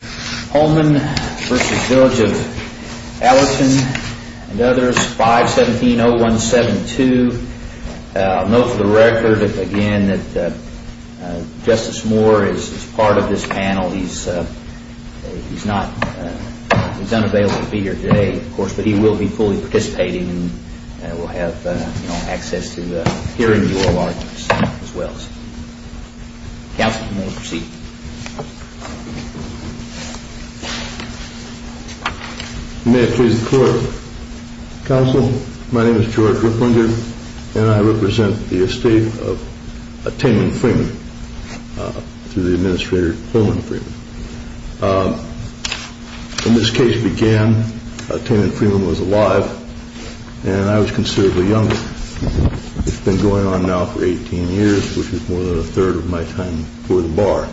and others, 517-0172. I'll note for the record again that Justice Moore is part of this panel. He's unavailable to be here today, of course, but he will be fully participating and will have access to the hearings and oral arguments as well. Counsel, you may proceed. May it please the Court, Counsel, my name is George Ripplinger and I represent the estate of Tamen Freeman through the Administrator Coleman Freeman. When this case began, Tamen Freeman was alive and I was considerably younger. It's been going on now for 18 years, which is more than a third of my time for the Bar.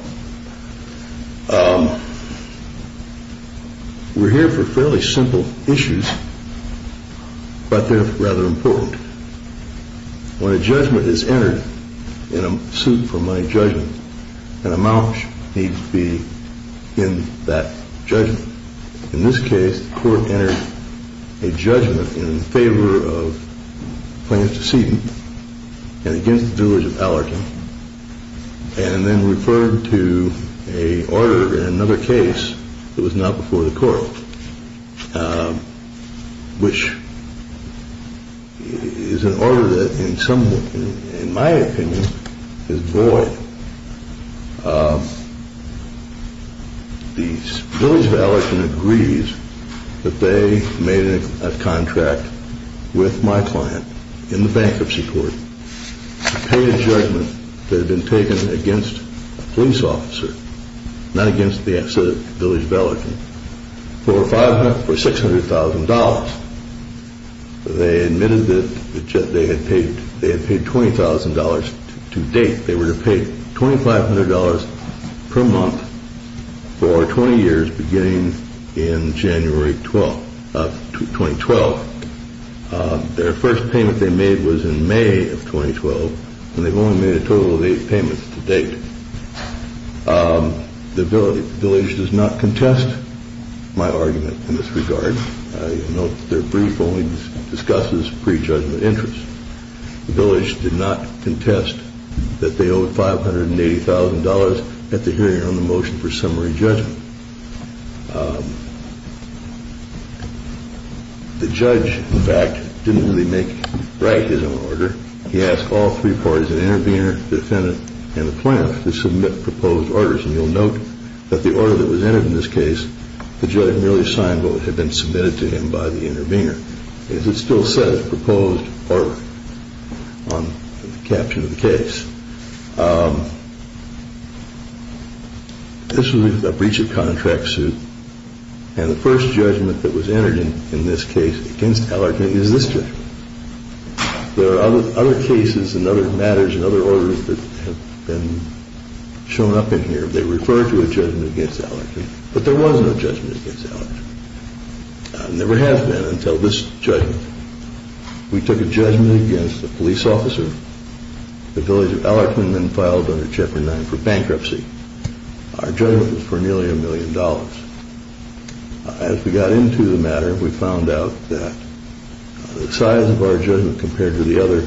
We're here for fairly simple issues, but they're rather important. When a judgment is entered in a suit for my judgment, an amount needs to be in that judgment. In this case, the Court entered a judgment in favor of Plaintiff's decedent and against the Village of Allorton and then referred to an order in another case that was not before the Court, which is an order that in my opinion is void. The Village of Allorton agrees that they made a contract with my client in the bankruptcy court to pay a judgment that had been taken against a police officer, not against the Village of Allorton, for $600,000. They admitted that they had paid $20,000 to date. They were to pay $2,500 per month for 20 years beginning in January 2012. Their first payment they made was in May of 2012 and they've only made a total of eight payments to date. The Village does not contest my argument in this regard. Their brief only discusses prejudgment interest. The Village did not contest that they owed $580,000 at the hearing on the motion for summary judgment. The judge, in fact, didn't really make right his own order. He asked all three parties, an intervener, defendant, and the plaintiff to submit proposed orders and you'll note that the order that was entered in this case, the judge merely signed what had been submitted to him by the intervener. It still says proposed order on the caption of the case. This was a breach of contract suit and the first judgment that was entered in this case against Allerton is this judgment. There are other cases and other matters and other orders that have been shown up in here. They refer to a judgment against Allerton, but there was no judgment against Allerton. Never has been until this judgment. We took a judgment against a police officer. The Village of Allerton then filed under Chapter 9 for bankruptcy. Our judgment was for nearly a million dollars. As we got into the matter, we found out that the size of our judgment compared to the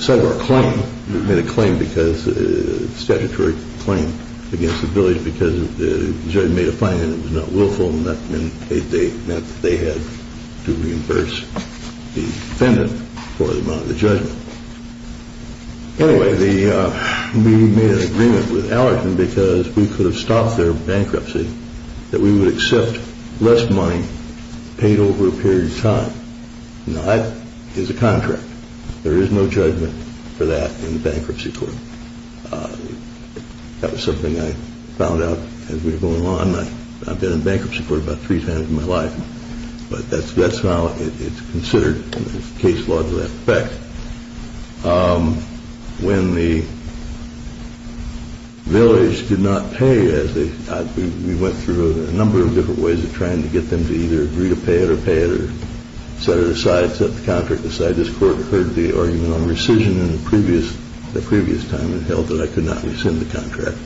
size of our claim, we made a statutory claim against the Village because the judge made a fine and it was not willful and that meant that they had to reimburse the defendant for the amount of the judgment. Anyway, we made an agreement with Allerton because we could have stopped their bankruptcy that we would accept less money paid over a period of time. Now that is a contract. There is no judgment for that in the bankruptcy court. That was something I found out as we were going along. I've been in bankruptcy court about three times in my life, but that's how it's considered in the case law to that effect. When the Village did not pay, we went through a number of different ways of trying to get them to either agree to pay it or pay it or set it aside, set the contract aside. This court heard the argument on rescission in the previous time and held that I could not rescind the contract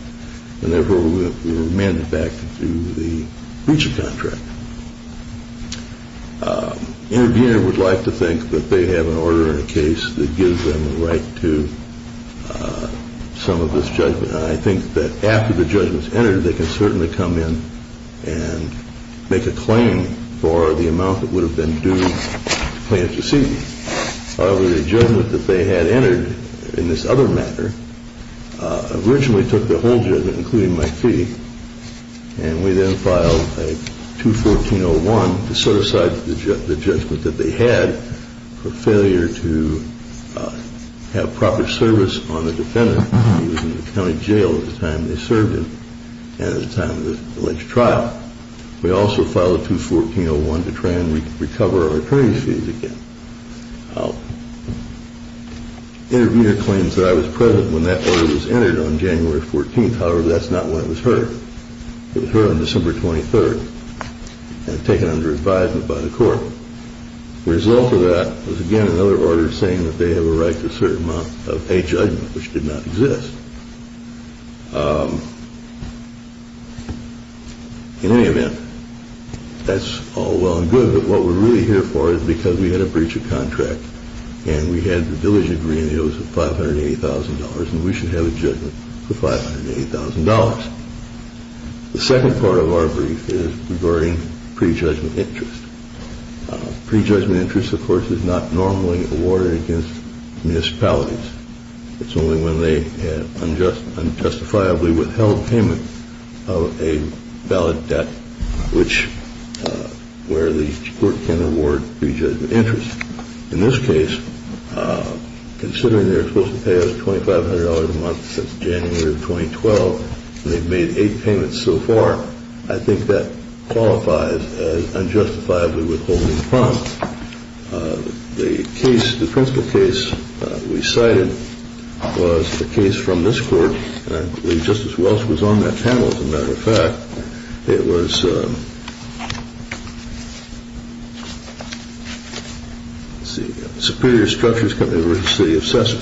and therefore we were remanded back to the breach of contract. Intervener would like to think that they have an order in a case that gives them the right to some of this judgment. I think that after the judgment is entered, they can certainly come in and make a claim for the amount that would have been due to plaintiff's receipt. However, the judgment that they had entered in this other matter originally took the whole judgment, including my fee, and we then filed a 214-01 to set aside the judgment that they had for failure to have proper service on the defendant. He was in the county jail at the time they served him and at the time of the alleged trial. We also filed a 214-01 to try and recover our attorney's fees again. Intervener claims that I was present when that order was entered on January 14th. However, that's not when it was heard. It was heard on December 23rd and taken under advisement by the court. The result of that was, again, another order saying that they have a right to a certain amount of a judgment, which did not exist. In any event, that's all well and good, but what we're really here for is because we had a breach of contract and we had the diligent agreement that it was $580,000 and we should have a judgment for $580,000. The second part of our brief is regarding prejudgment interest. Prejudgment interest, of course, is not normally awarded against municipalities. It's only when they unjustifiably withheld payment of a valid debt, where the court can award prejudgment interest. In this case, considering they're supposed to pay us $2,500 a month since January of 2012, and they've made eight payments so far, I think that qualifies as unjustifiably withholding a prompt. The case, the principal case we cited was the case from this court. I believe Justice Welch was on that panel, as a matter of fact. It was Superior Structures Company v. City Assessor.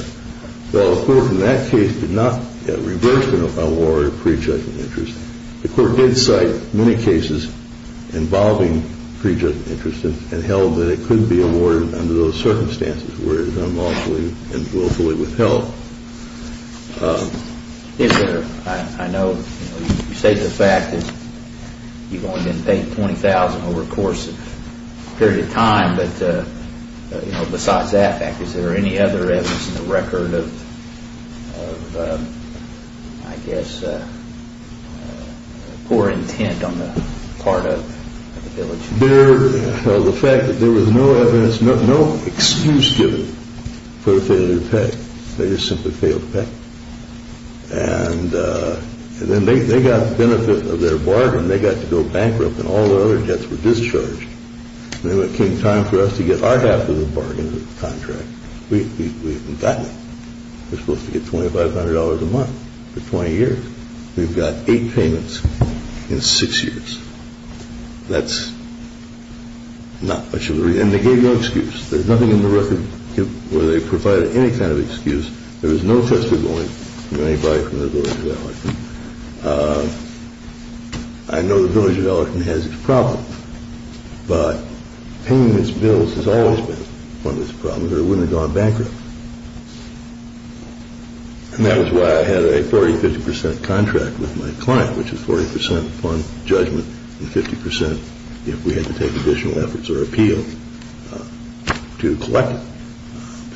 While the court in that case did not reverse an award of prejudgment interest, the court did cite many cases involving prejudgment interest and held that it could be awarded under those circumstances where it is unlawfully and willfully withheld. I know you state the fact that you've only been paid $20,000 over a course of a period of time, but besides that fact, is there any other evidence in the record of, I guess, poor intent on the part of the village? The fact that there was no evidence, no excuse given for failure to pay. They just simply failed to pay. And then they got the benefit of their bargain. They got to go bankrupt, and all their other debts were discharged. And then when it came time for us to get our half of the bargain contract, we haven't gotten it. We're supposed to get $2,500 a month for 20 years. We've got eight payments in six years. That's not much of a reason. And they gave no excuse. There's nothing in the record where they provided any kind of excuse. There was no testimony from anybody from the village of Ellicott. I know the village of Ellicott has its problems, but paying its bills has always been one of its problems, or it wouldn't have gone bankrupt. And that was why I had a 40-50 percent contract with my client, which is 40 percent upon judgment and 50 percent if we had to take additional efforts or appeal to collect it.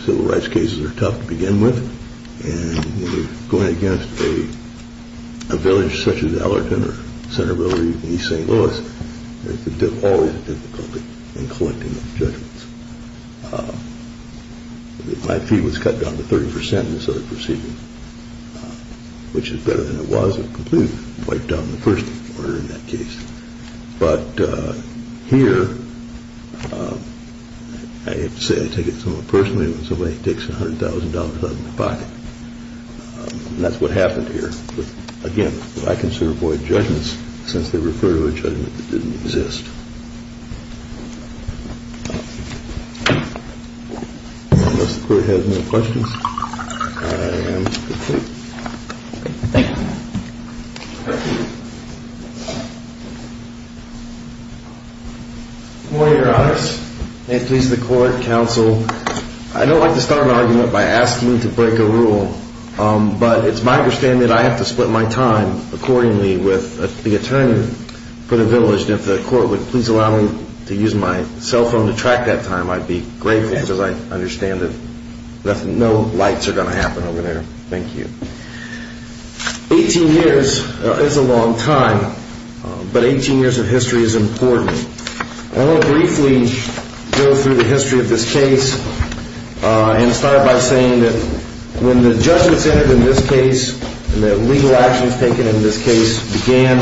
Civil rights cases are tough to begin with. And going against a village such as Ellerton or Center Village in East St. Louis, there's always difficulty in collecting those judgments. My fee was cut down to 30 percent in this other procedure, which is better than it was. It completely wiped down the first order in that case. But here, I have to say, I take it somewhat personally when somebody takes $100,000 out of my pocket. And that's what happened here. But, again, I consider void judgments since they refer to a judgment that didn't exist. Unless the court has any questions, I am complete. Thank you. Good morning, Your Honor. May it please the court, counsel, I don't like to start an argument by asking to break a rule, but it's my understanding that I have to split my time accordingly with the attorney for the village. And if the court would please allow me to use my cell phone to track that time, I'd be grateful, because I understand that no lights are going to happen over there. Thank you. Eighteen years is a long time, but 18 years of history is important. I want to briefly go through the history of this case and start by saying that when the judgments entered in this case and the legal actions taken in this case began,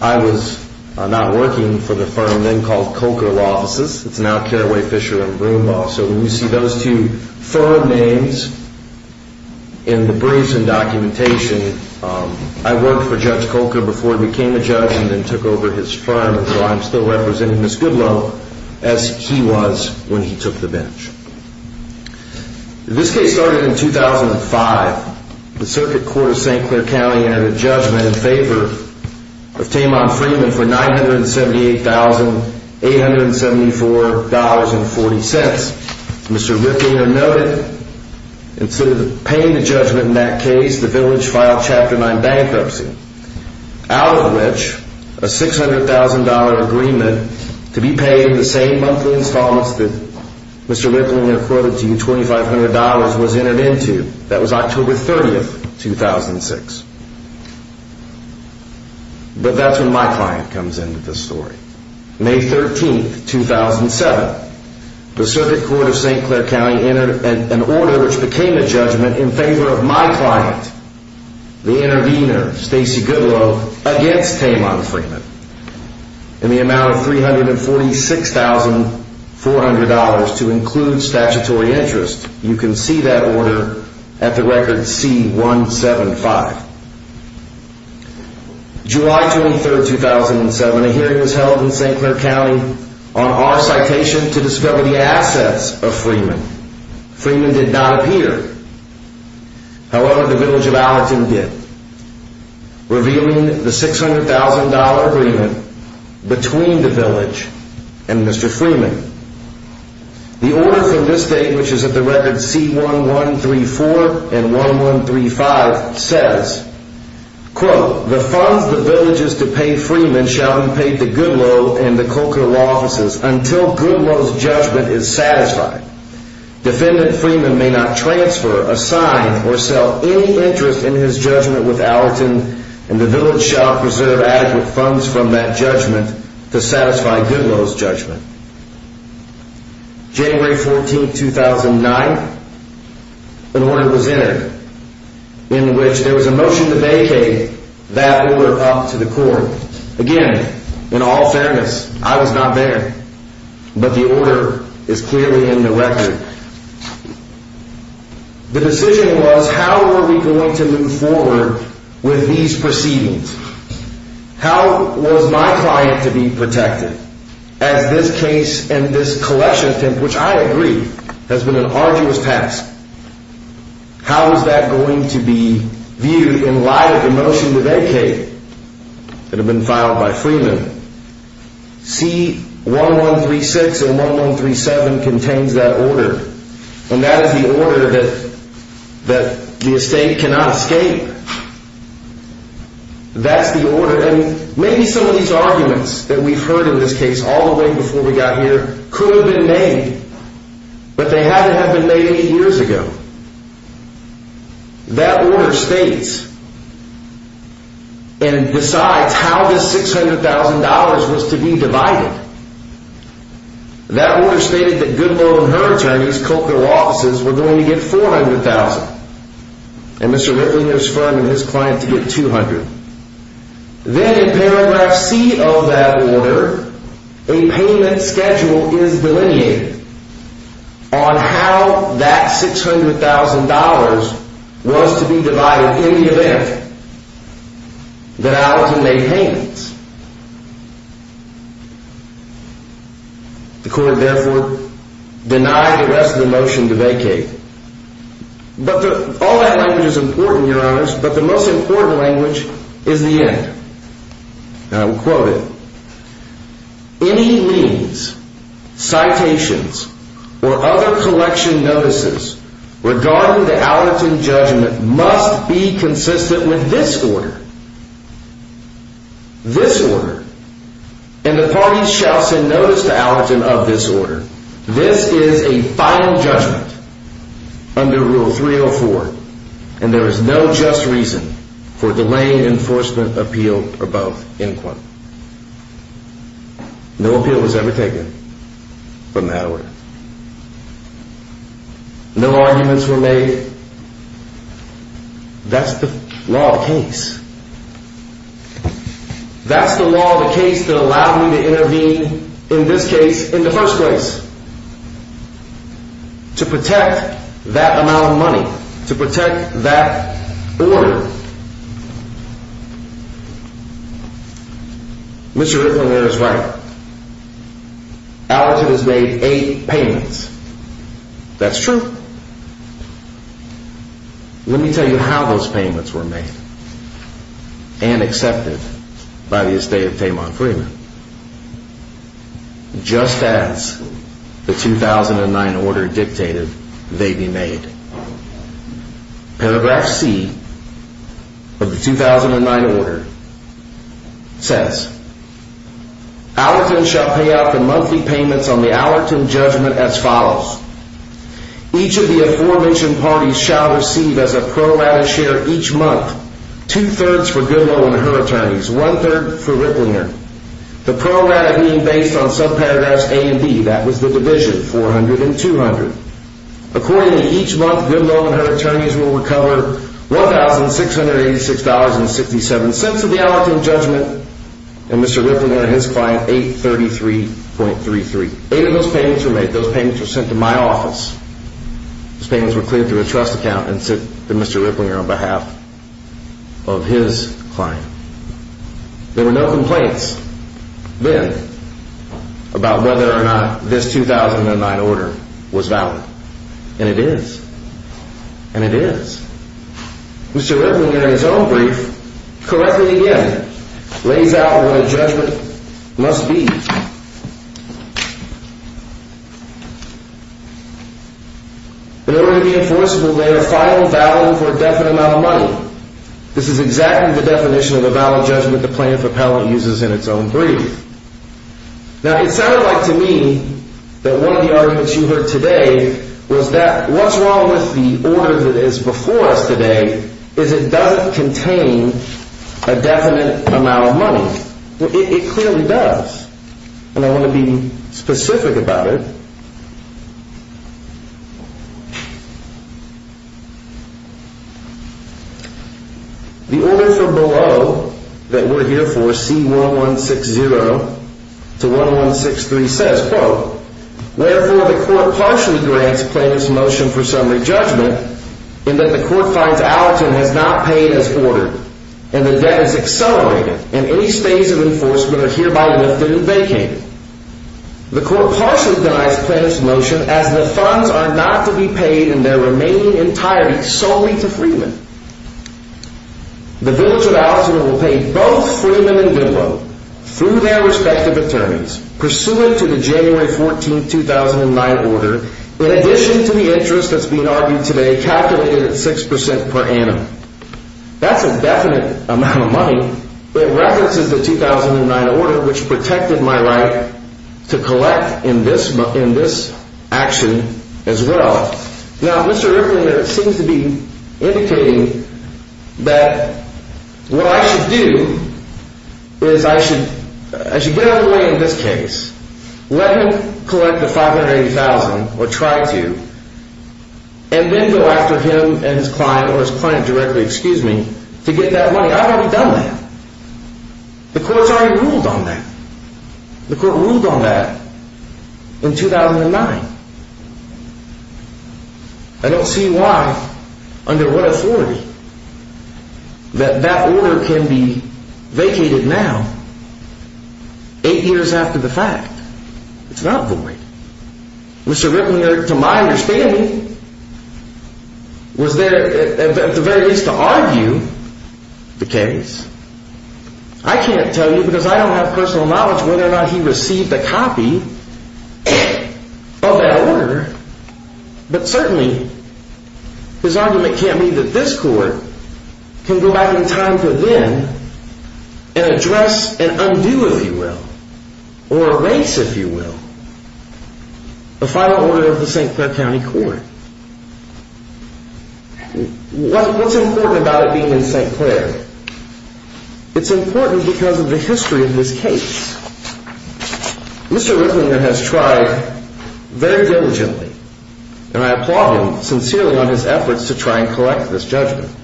I was not working for the firm then called Coker Law Offices. It's now Carraway Fisher and Broomball. So when you see those two firm names in the briefs and documentation, I worked for Judge Coker before he became a judge and then took over his firm, and so I'm still representing Ms. Goodloe as he was when he took the bench. This case started in 2005. The Circuit Court of St. Clair County entered a judgment in favor of Tamon Freeman for $978,874.40. Mr. Ripplinger noted, instead of paying the judgment in that case, the village filed Chapter 9 bankruptcy, out of which a $600,000 agreement to be paid in the same monthly installments that Mr. Ripplinger quoted to you, $2,500, was entered into. That was October 30, 2006. But that's when my client comes into this story. May 13, 2007, the Circuit Court of St. Clair County entered an order which became a judgment in favor of my client, the intervener, Stacey Goodloe, against Tamon Freeman. In the amount of $346,400 to include statutory interest, you can see that order at the record C-175. July 23, 2007, a hearing was held in St. Clair County on our citation to discover the assets of Freeman. Freeman did not appear. However, the village of Allerton did. Revealing the $600,000 agreement between the village and Mr. Freeman. The order from this date, which is at the record C-1134 and 1135, says, quote, the funds the village is to pay Freeman shall be paid to Goodloe and the Cocoa Law Offices until Goodloe's judgment is satisfied. Defendant Freeman may not transfer, assign, or sell any interest in his judgment with Allerton, and the village shall preserve adequate funds from that judgment to satisfy Goodloe's judgment. January 14, 2009, an order was entered in which there was a motion to vacate that order up to the court. Again, in all fairness, I was not there, but the order is clearly in the record. The decision was, how were we going to move forward with these proceedings? How was my client to be protected as this case and this collection attempt, which I agree has been an arduous task? How was that going to be viewed in light of the motion to vacate that had been filed by Freeman? C-1136 and 1137 contains that order, and that is the order that the estate cannot escape. That's the order, and maybe some of these arguments that we've heard in this case all the way before we got here could have been made, but they had to have been made eight years ago. That order states, and decides how this $600,000 was to be divided. That order stated that Goodloe and her Chinese cultural offices were going to get $400,000, and Mr. Ripley and his firm and his client to get $200,000. Then in paragraph C of that order, a payment schedule is delineated on how that $600,000 was to be divided in the event that Allerton made payments. The court therefore denied the rest of the motion to vacate. All that language is important, Your Honors, but the most important language is the end. I will quote it. Any means, citations, or other collection notices regarding the Allerton judgment must be consistent with this order. This order, and the parties shall send notice to Allerton of this order. This is a final judgment under Rule 304, and there is no just reason for delaying enforcement appeal above end quote. No appeal was ever taken from that order. No arguments were made. That's the law, the case that allowed me to intervene in this case in the first place. To protect that amount of money. To protect that order. Mr. Ripley there is right. Allerton has made eight payments. That's true. Let me tell you how those payments were made. And accepted by the estate of Tamon Freeman. Just as the 2009 order dictated they be made. Paragraph C of the 2009 order says. Allerton shall pay out the monthly payments on the Allerton judgment as follows. Each of the aforementioned parties shall receive as a pro rata share each month. Two thirds for Goodwill and her attorneys. One third for Ripleyner. The pro rata being based on subparagraphs A and B. That was the division 400 and 200. According to each month Goodwill and her attorneys will recover $1,686.67 of the Allerton judgment. And Mr. Ripley and his client $833.33. Eight of those payments were made. Those payments were sent to my office. Those payments were cleared through a trust account and sent to Mr. Ripleyner on behalf of his client. There were no complaints then about whether or not this 2009 order was valid. And it is. And it is. Mr. Ripleyner in his own brief correctly again lays out what a judgment must be. In order to be enforceable lay a final value for a definite amount of money. This is exactly the definition of a valid judgment the plaintiff appellant uses in its own brief. Now it sounded like to me that one of the arguments you heard today was that what's wrong with the order that is before us today is it doesn't contain a definite amount of money. It clearly does. And I want to be specific about it. The order from below that we're here for C1160 to 1163 says, quote, Therefore, the court partially grants plaintiff's motion for summary judgment in that the court finds Allerton has not paid as ordered and the debt is accelerated and any stays of enforcement are hereby lifted and vacated. The court partially denies plaintiff's motion as the funds are not to be paid in their remaining entirety solely to Freeman. The village of Allerton will pay both Freeman and Goodloe through their respective attorneys pursuant to the January 14, 2009 order. In addition to the interest that's being argued today calculated at six percent per annum. That's a definite amount of money. It references the 2009 order, which protected my right to collect in this in this action as well. Now, Mr. Ripley seems to be indicating that what I should do is I should I should get away in this case. Let me collect the five hundred thousand or try to. And then go after him and his client or his client directly, excuse me, to get that money. I've already done that. The courts already ruled on that. The court ruled on that in 2009. I don't see why under what authority. That that order can be vacated now. Eight years after the fact. It's not void. Mr. Ripley, to my understanding, was there at the very least to argue the case. I can't tell you because I don't have personal knowledge whether or not he received a copy of that order. But certainly. His argument can't be that this court can go back in time for them and address and undo, if you will, or erase, if you will. The final order of the St. Clair County Court. What's important about it being in St. Clair? It's important because of the history of this case. Mr. Ripley has tried very diligently, and I applaud him sincerely on his efforts to try and collect this judgment.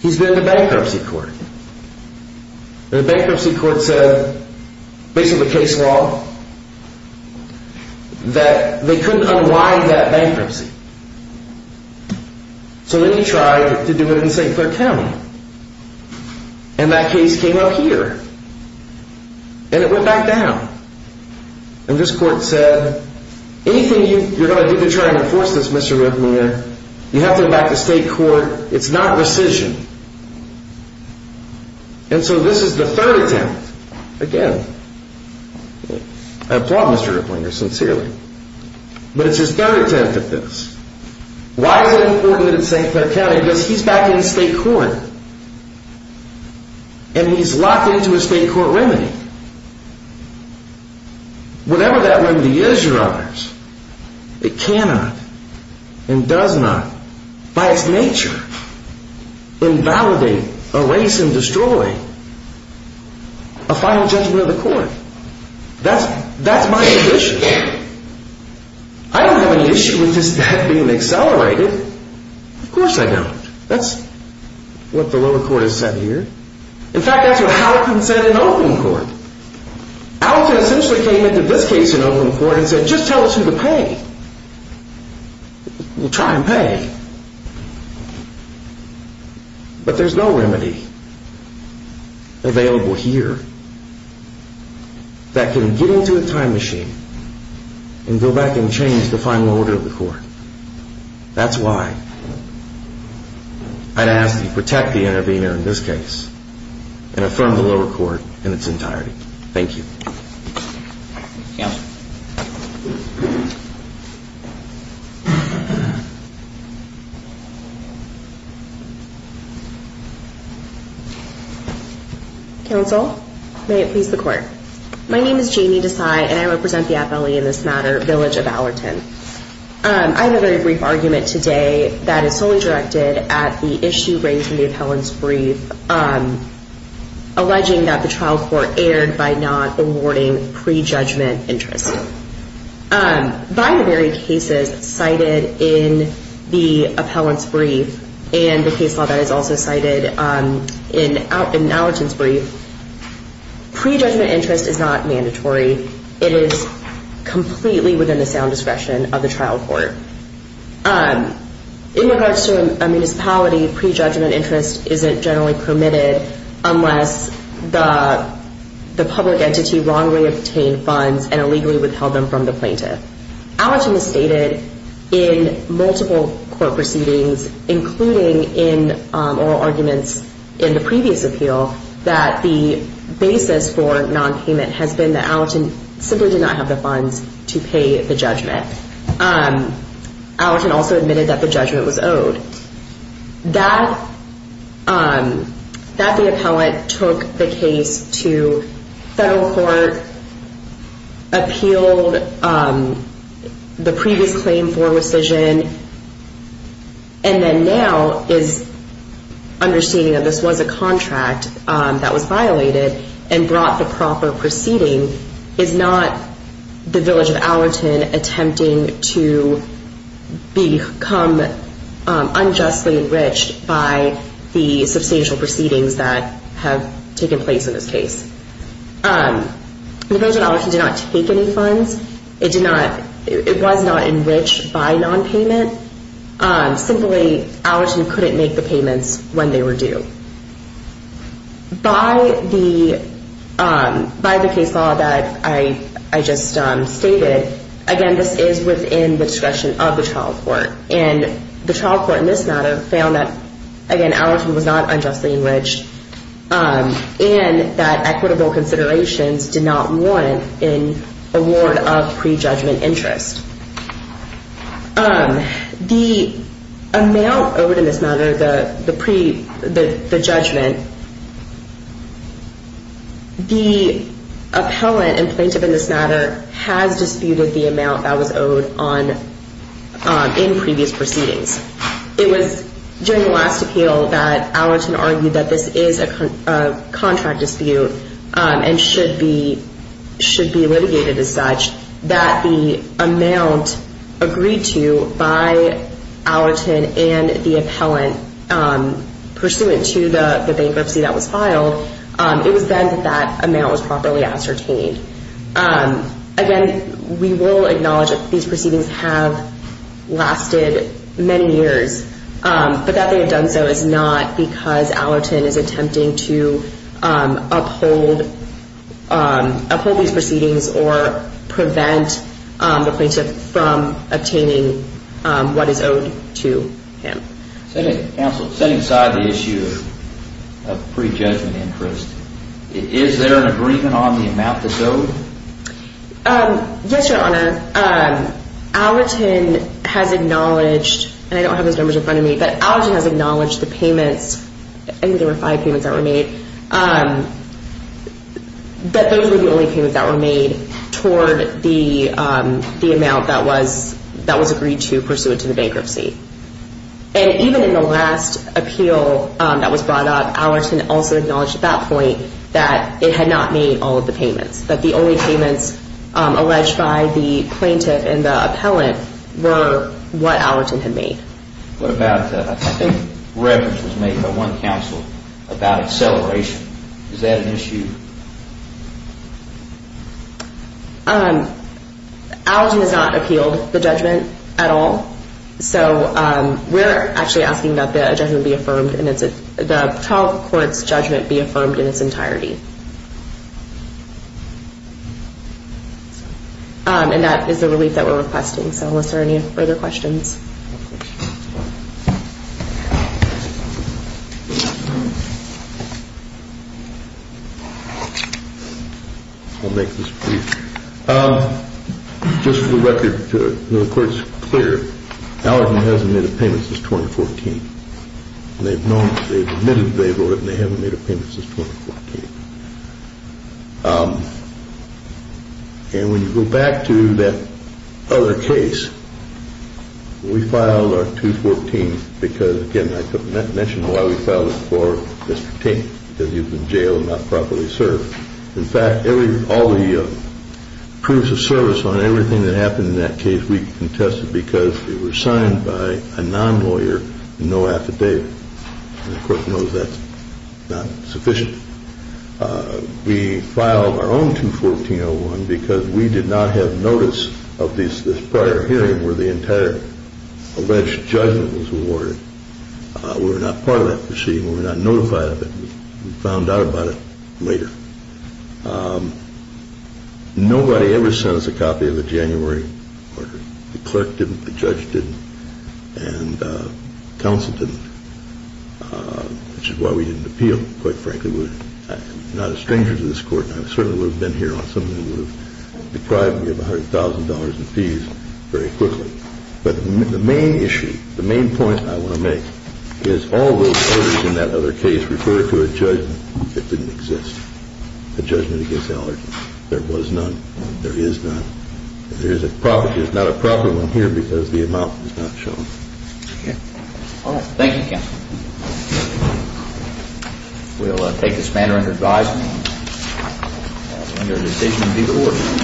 He's been to bankruptcy court. The bankruptcy court said, based on the case law, that they couldn't unwind that bankruptcy. So then he tried to do it in St. Clair County. And that case came up here. And it went back down. And this court said, anything you're going to do to try and enforce this, Mr. Ripley, you have to go back to state court. It's not rescission. And so this is the third attempt. Again, I applaud Mr. Ripley sincerely. But it's his third attempt at this. Why is it important in St. Clair County? Because he's back in state court. And he's locked into a state court remedy. Whatever that remedy is, Your Honors, it cannot and does not, by its nature, invalidate, erase, and destroy a final judgment of the court. That's my condition. I don't have any issue with this death being accelerated. Of course I don't. That's what the lower court has said here. In fact, that's what Halton said in open court. Halton essentially came into this case in open court and said, just tell us who to pay. Well, try and pay. But there's no remedy available here that can get into a time machine and go back and change the final order of the court. That's why I'd ask that you protect the intervener in this case and affirm the lower court in its entirety. Thank you. Counsel. Counsel, may it please the court. My name is Jamie Desai, and I represent the FLE in this matter, Village of Allerton. I have a very brief argument today that is solely directed at the issue raised in the appellant's brief, alleging that the trial court erred by not awarding prejudgment interest. By the very cases cited in the appellant's brief and the case law that is also cited in Allerton's brief, prejudgment interest is not mandatory. It is completely within the sound discretion of the trial court. In regards to a municipality, prejudgment interest isn't generally permitted unless the public entity wrongly obtained funds and illegally withheld them from the plaintiff. Allerton has stated in multiple court proceedings, including in oral arguments in the previous appeal, that the basis for nonpayment has been that Allerton simply did not have the funds to pay the judgment. Allerton also admitted that the judgment was owed. That the appellant took the case to federal court, appealed the previous claim for rescission, and then now is understanding that this was a contract that was violated and brought the proper proceeding, is not the Village of Allerton attempting to become unjustly enriched by the substantial proceedings that have taken place in this case. The Village of Allerton did not take any funds. It was not enriched by nonpayment. Simply, Allerton couldn't make the payments when they were due. By the case law that I just stated, again, this is within the discretion of the trial court. And the trial court in this matter found that, again, Allerton was not unjustly enriched and that equitable considerations did not warrant an award of prejudgment interest. The amount owed in this matter, the judgment, the appellant and plaintiff in this matter has disputed the amount that was owed in previous proceedings. It was during the last appeal that Allerton argued that this is a contract dispute and should be litigated as such, that the amount agreed to by Allerton and the appellant pursuant to the bankruptcy that was filed, it was then that that amount was properly ascertained. Again, we will acknowledge that these proceedings have lasted many years, but that they have done so is not because Allerton is attempting to uphold these proceedings or prevent the plaintiff from obtaining what is owed to him. Setting aside the issue of prejudgment interest, is there an agreement on the amount that's owed? Yes, Your Honor. Allerton has acknowledged, and I don't have those numbers in front of me, but Allerton has acknowledged the payments, I think there were five payments that were made, that those were the only payments that were made toward the amount that was agreed to pursuant to the bankruptcy. And even in the last appeal that was brought up, Allerton also acknowledged at that point that it had not made all of the payments, that the only payments alleged by the plaintiff and the appellant were what Allerton had made. What about, I think reference was made by one counsel about acceleration. Is that an issue? Allerton has not appealed the judgment at all, so we're actually asking that the judgment be affirmed and the trial court's judgment be affirmed in its entirety. And that is the relief that we're requesting, so are there any further questions? I'll make this brief. Just for the record, the court is clear, Allerton hasn't made a payment since 2014. They've admitted they've owed it and they haven't made a payment since 2014. And when you go back to that other case, we filed our 214 because, again, I mentioned why we filed it for Mr. Tate, because he was in jail and not properly served. In fact, all the proofs of service on everything that happened in that case, we contested because they were signed by a non-lawyer and there was no affidavit. And the court knows that's not sufficient. We filed our own 214-01 because we did not have notice of this prior hearing where the entire alleged judgment was awarded. We were not part of that proceeding. We were not notified of it. We found out about it later. Nobody ever sent us a copy of the January order. The clerk didn't, the judge didn't, and counsel didn't, which is why we didn't appeal, quite frankly. We're not a stranger to this court. I certainly would have been here on something that would have deprived me of $100,000 in fees very quickly. But the main issue, the main point I want to make, is all those orders in that other case refer to a judgment that didn't exist, a judgment against Allerton. There was none and there is none. There's not a proper one here because the amount is not shown. Okay. All right. Thank you, counsel. We'll take this matter into advisement. Under the station of legal order.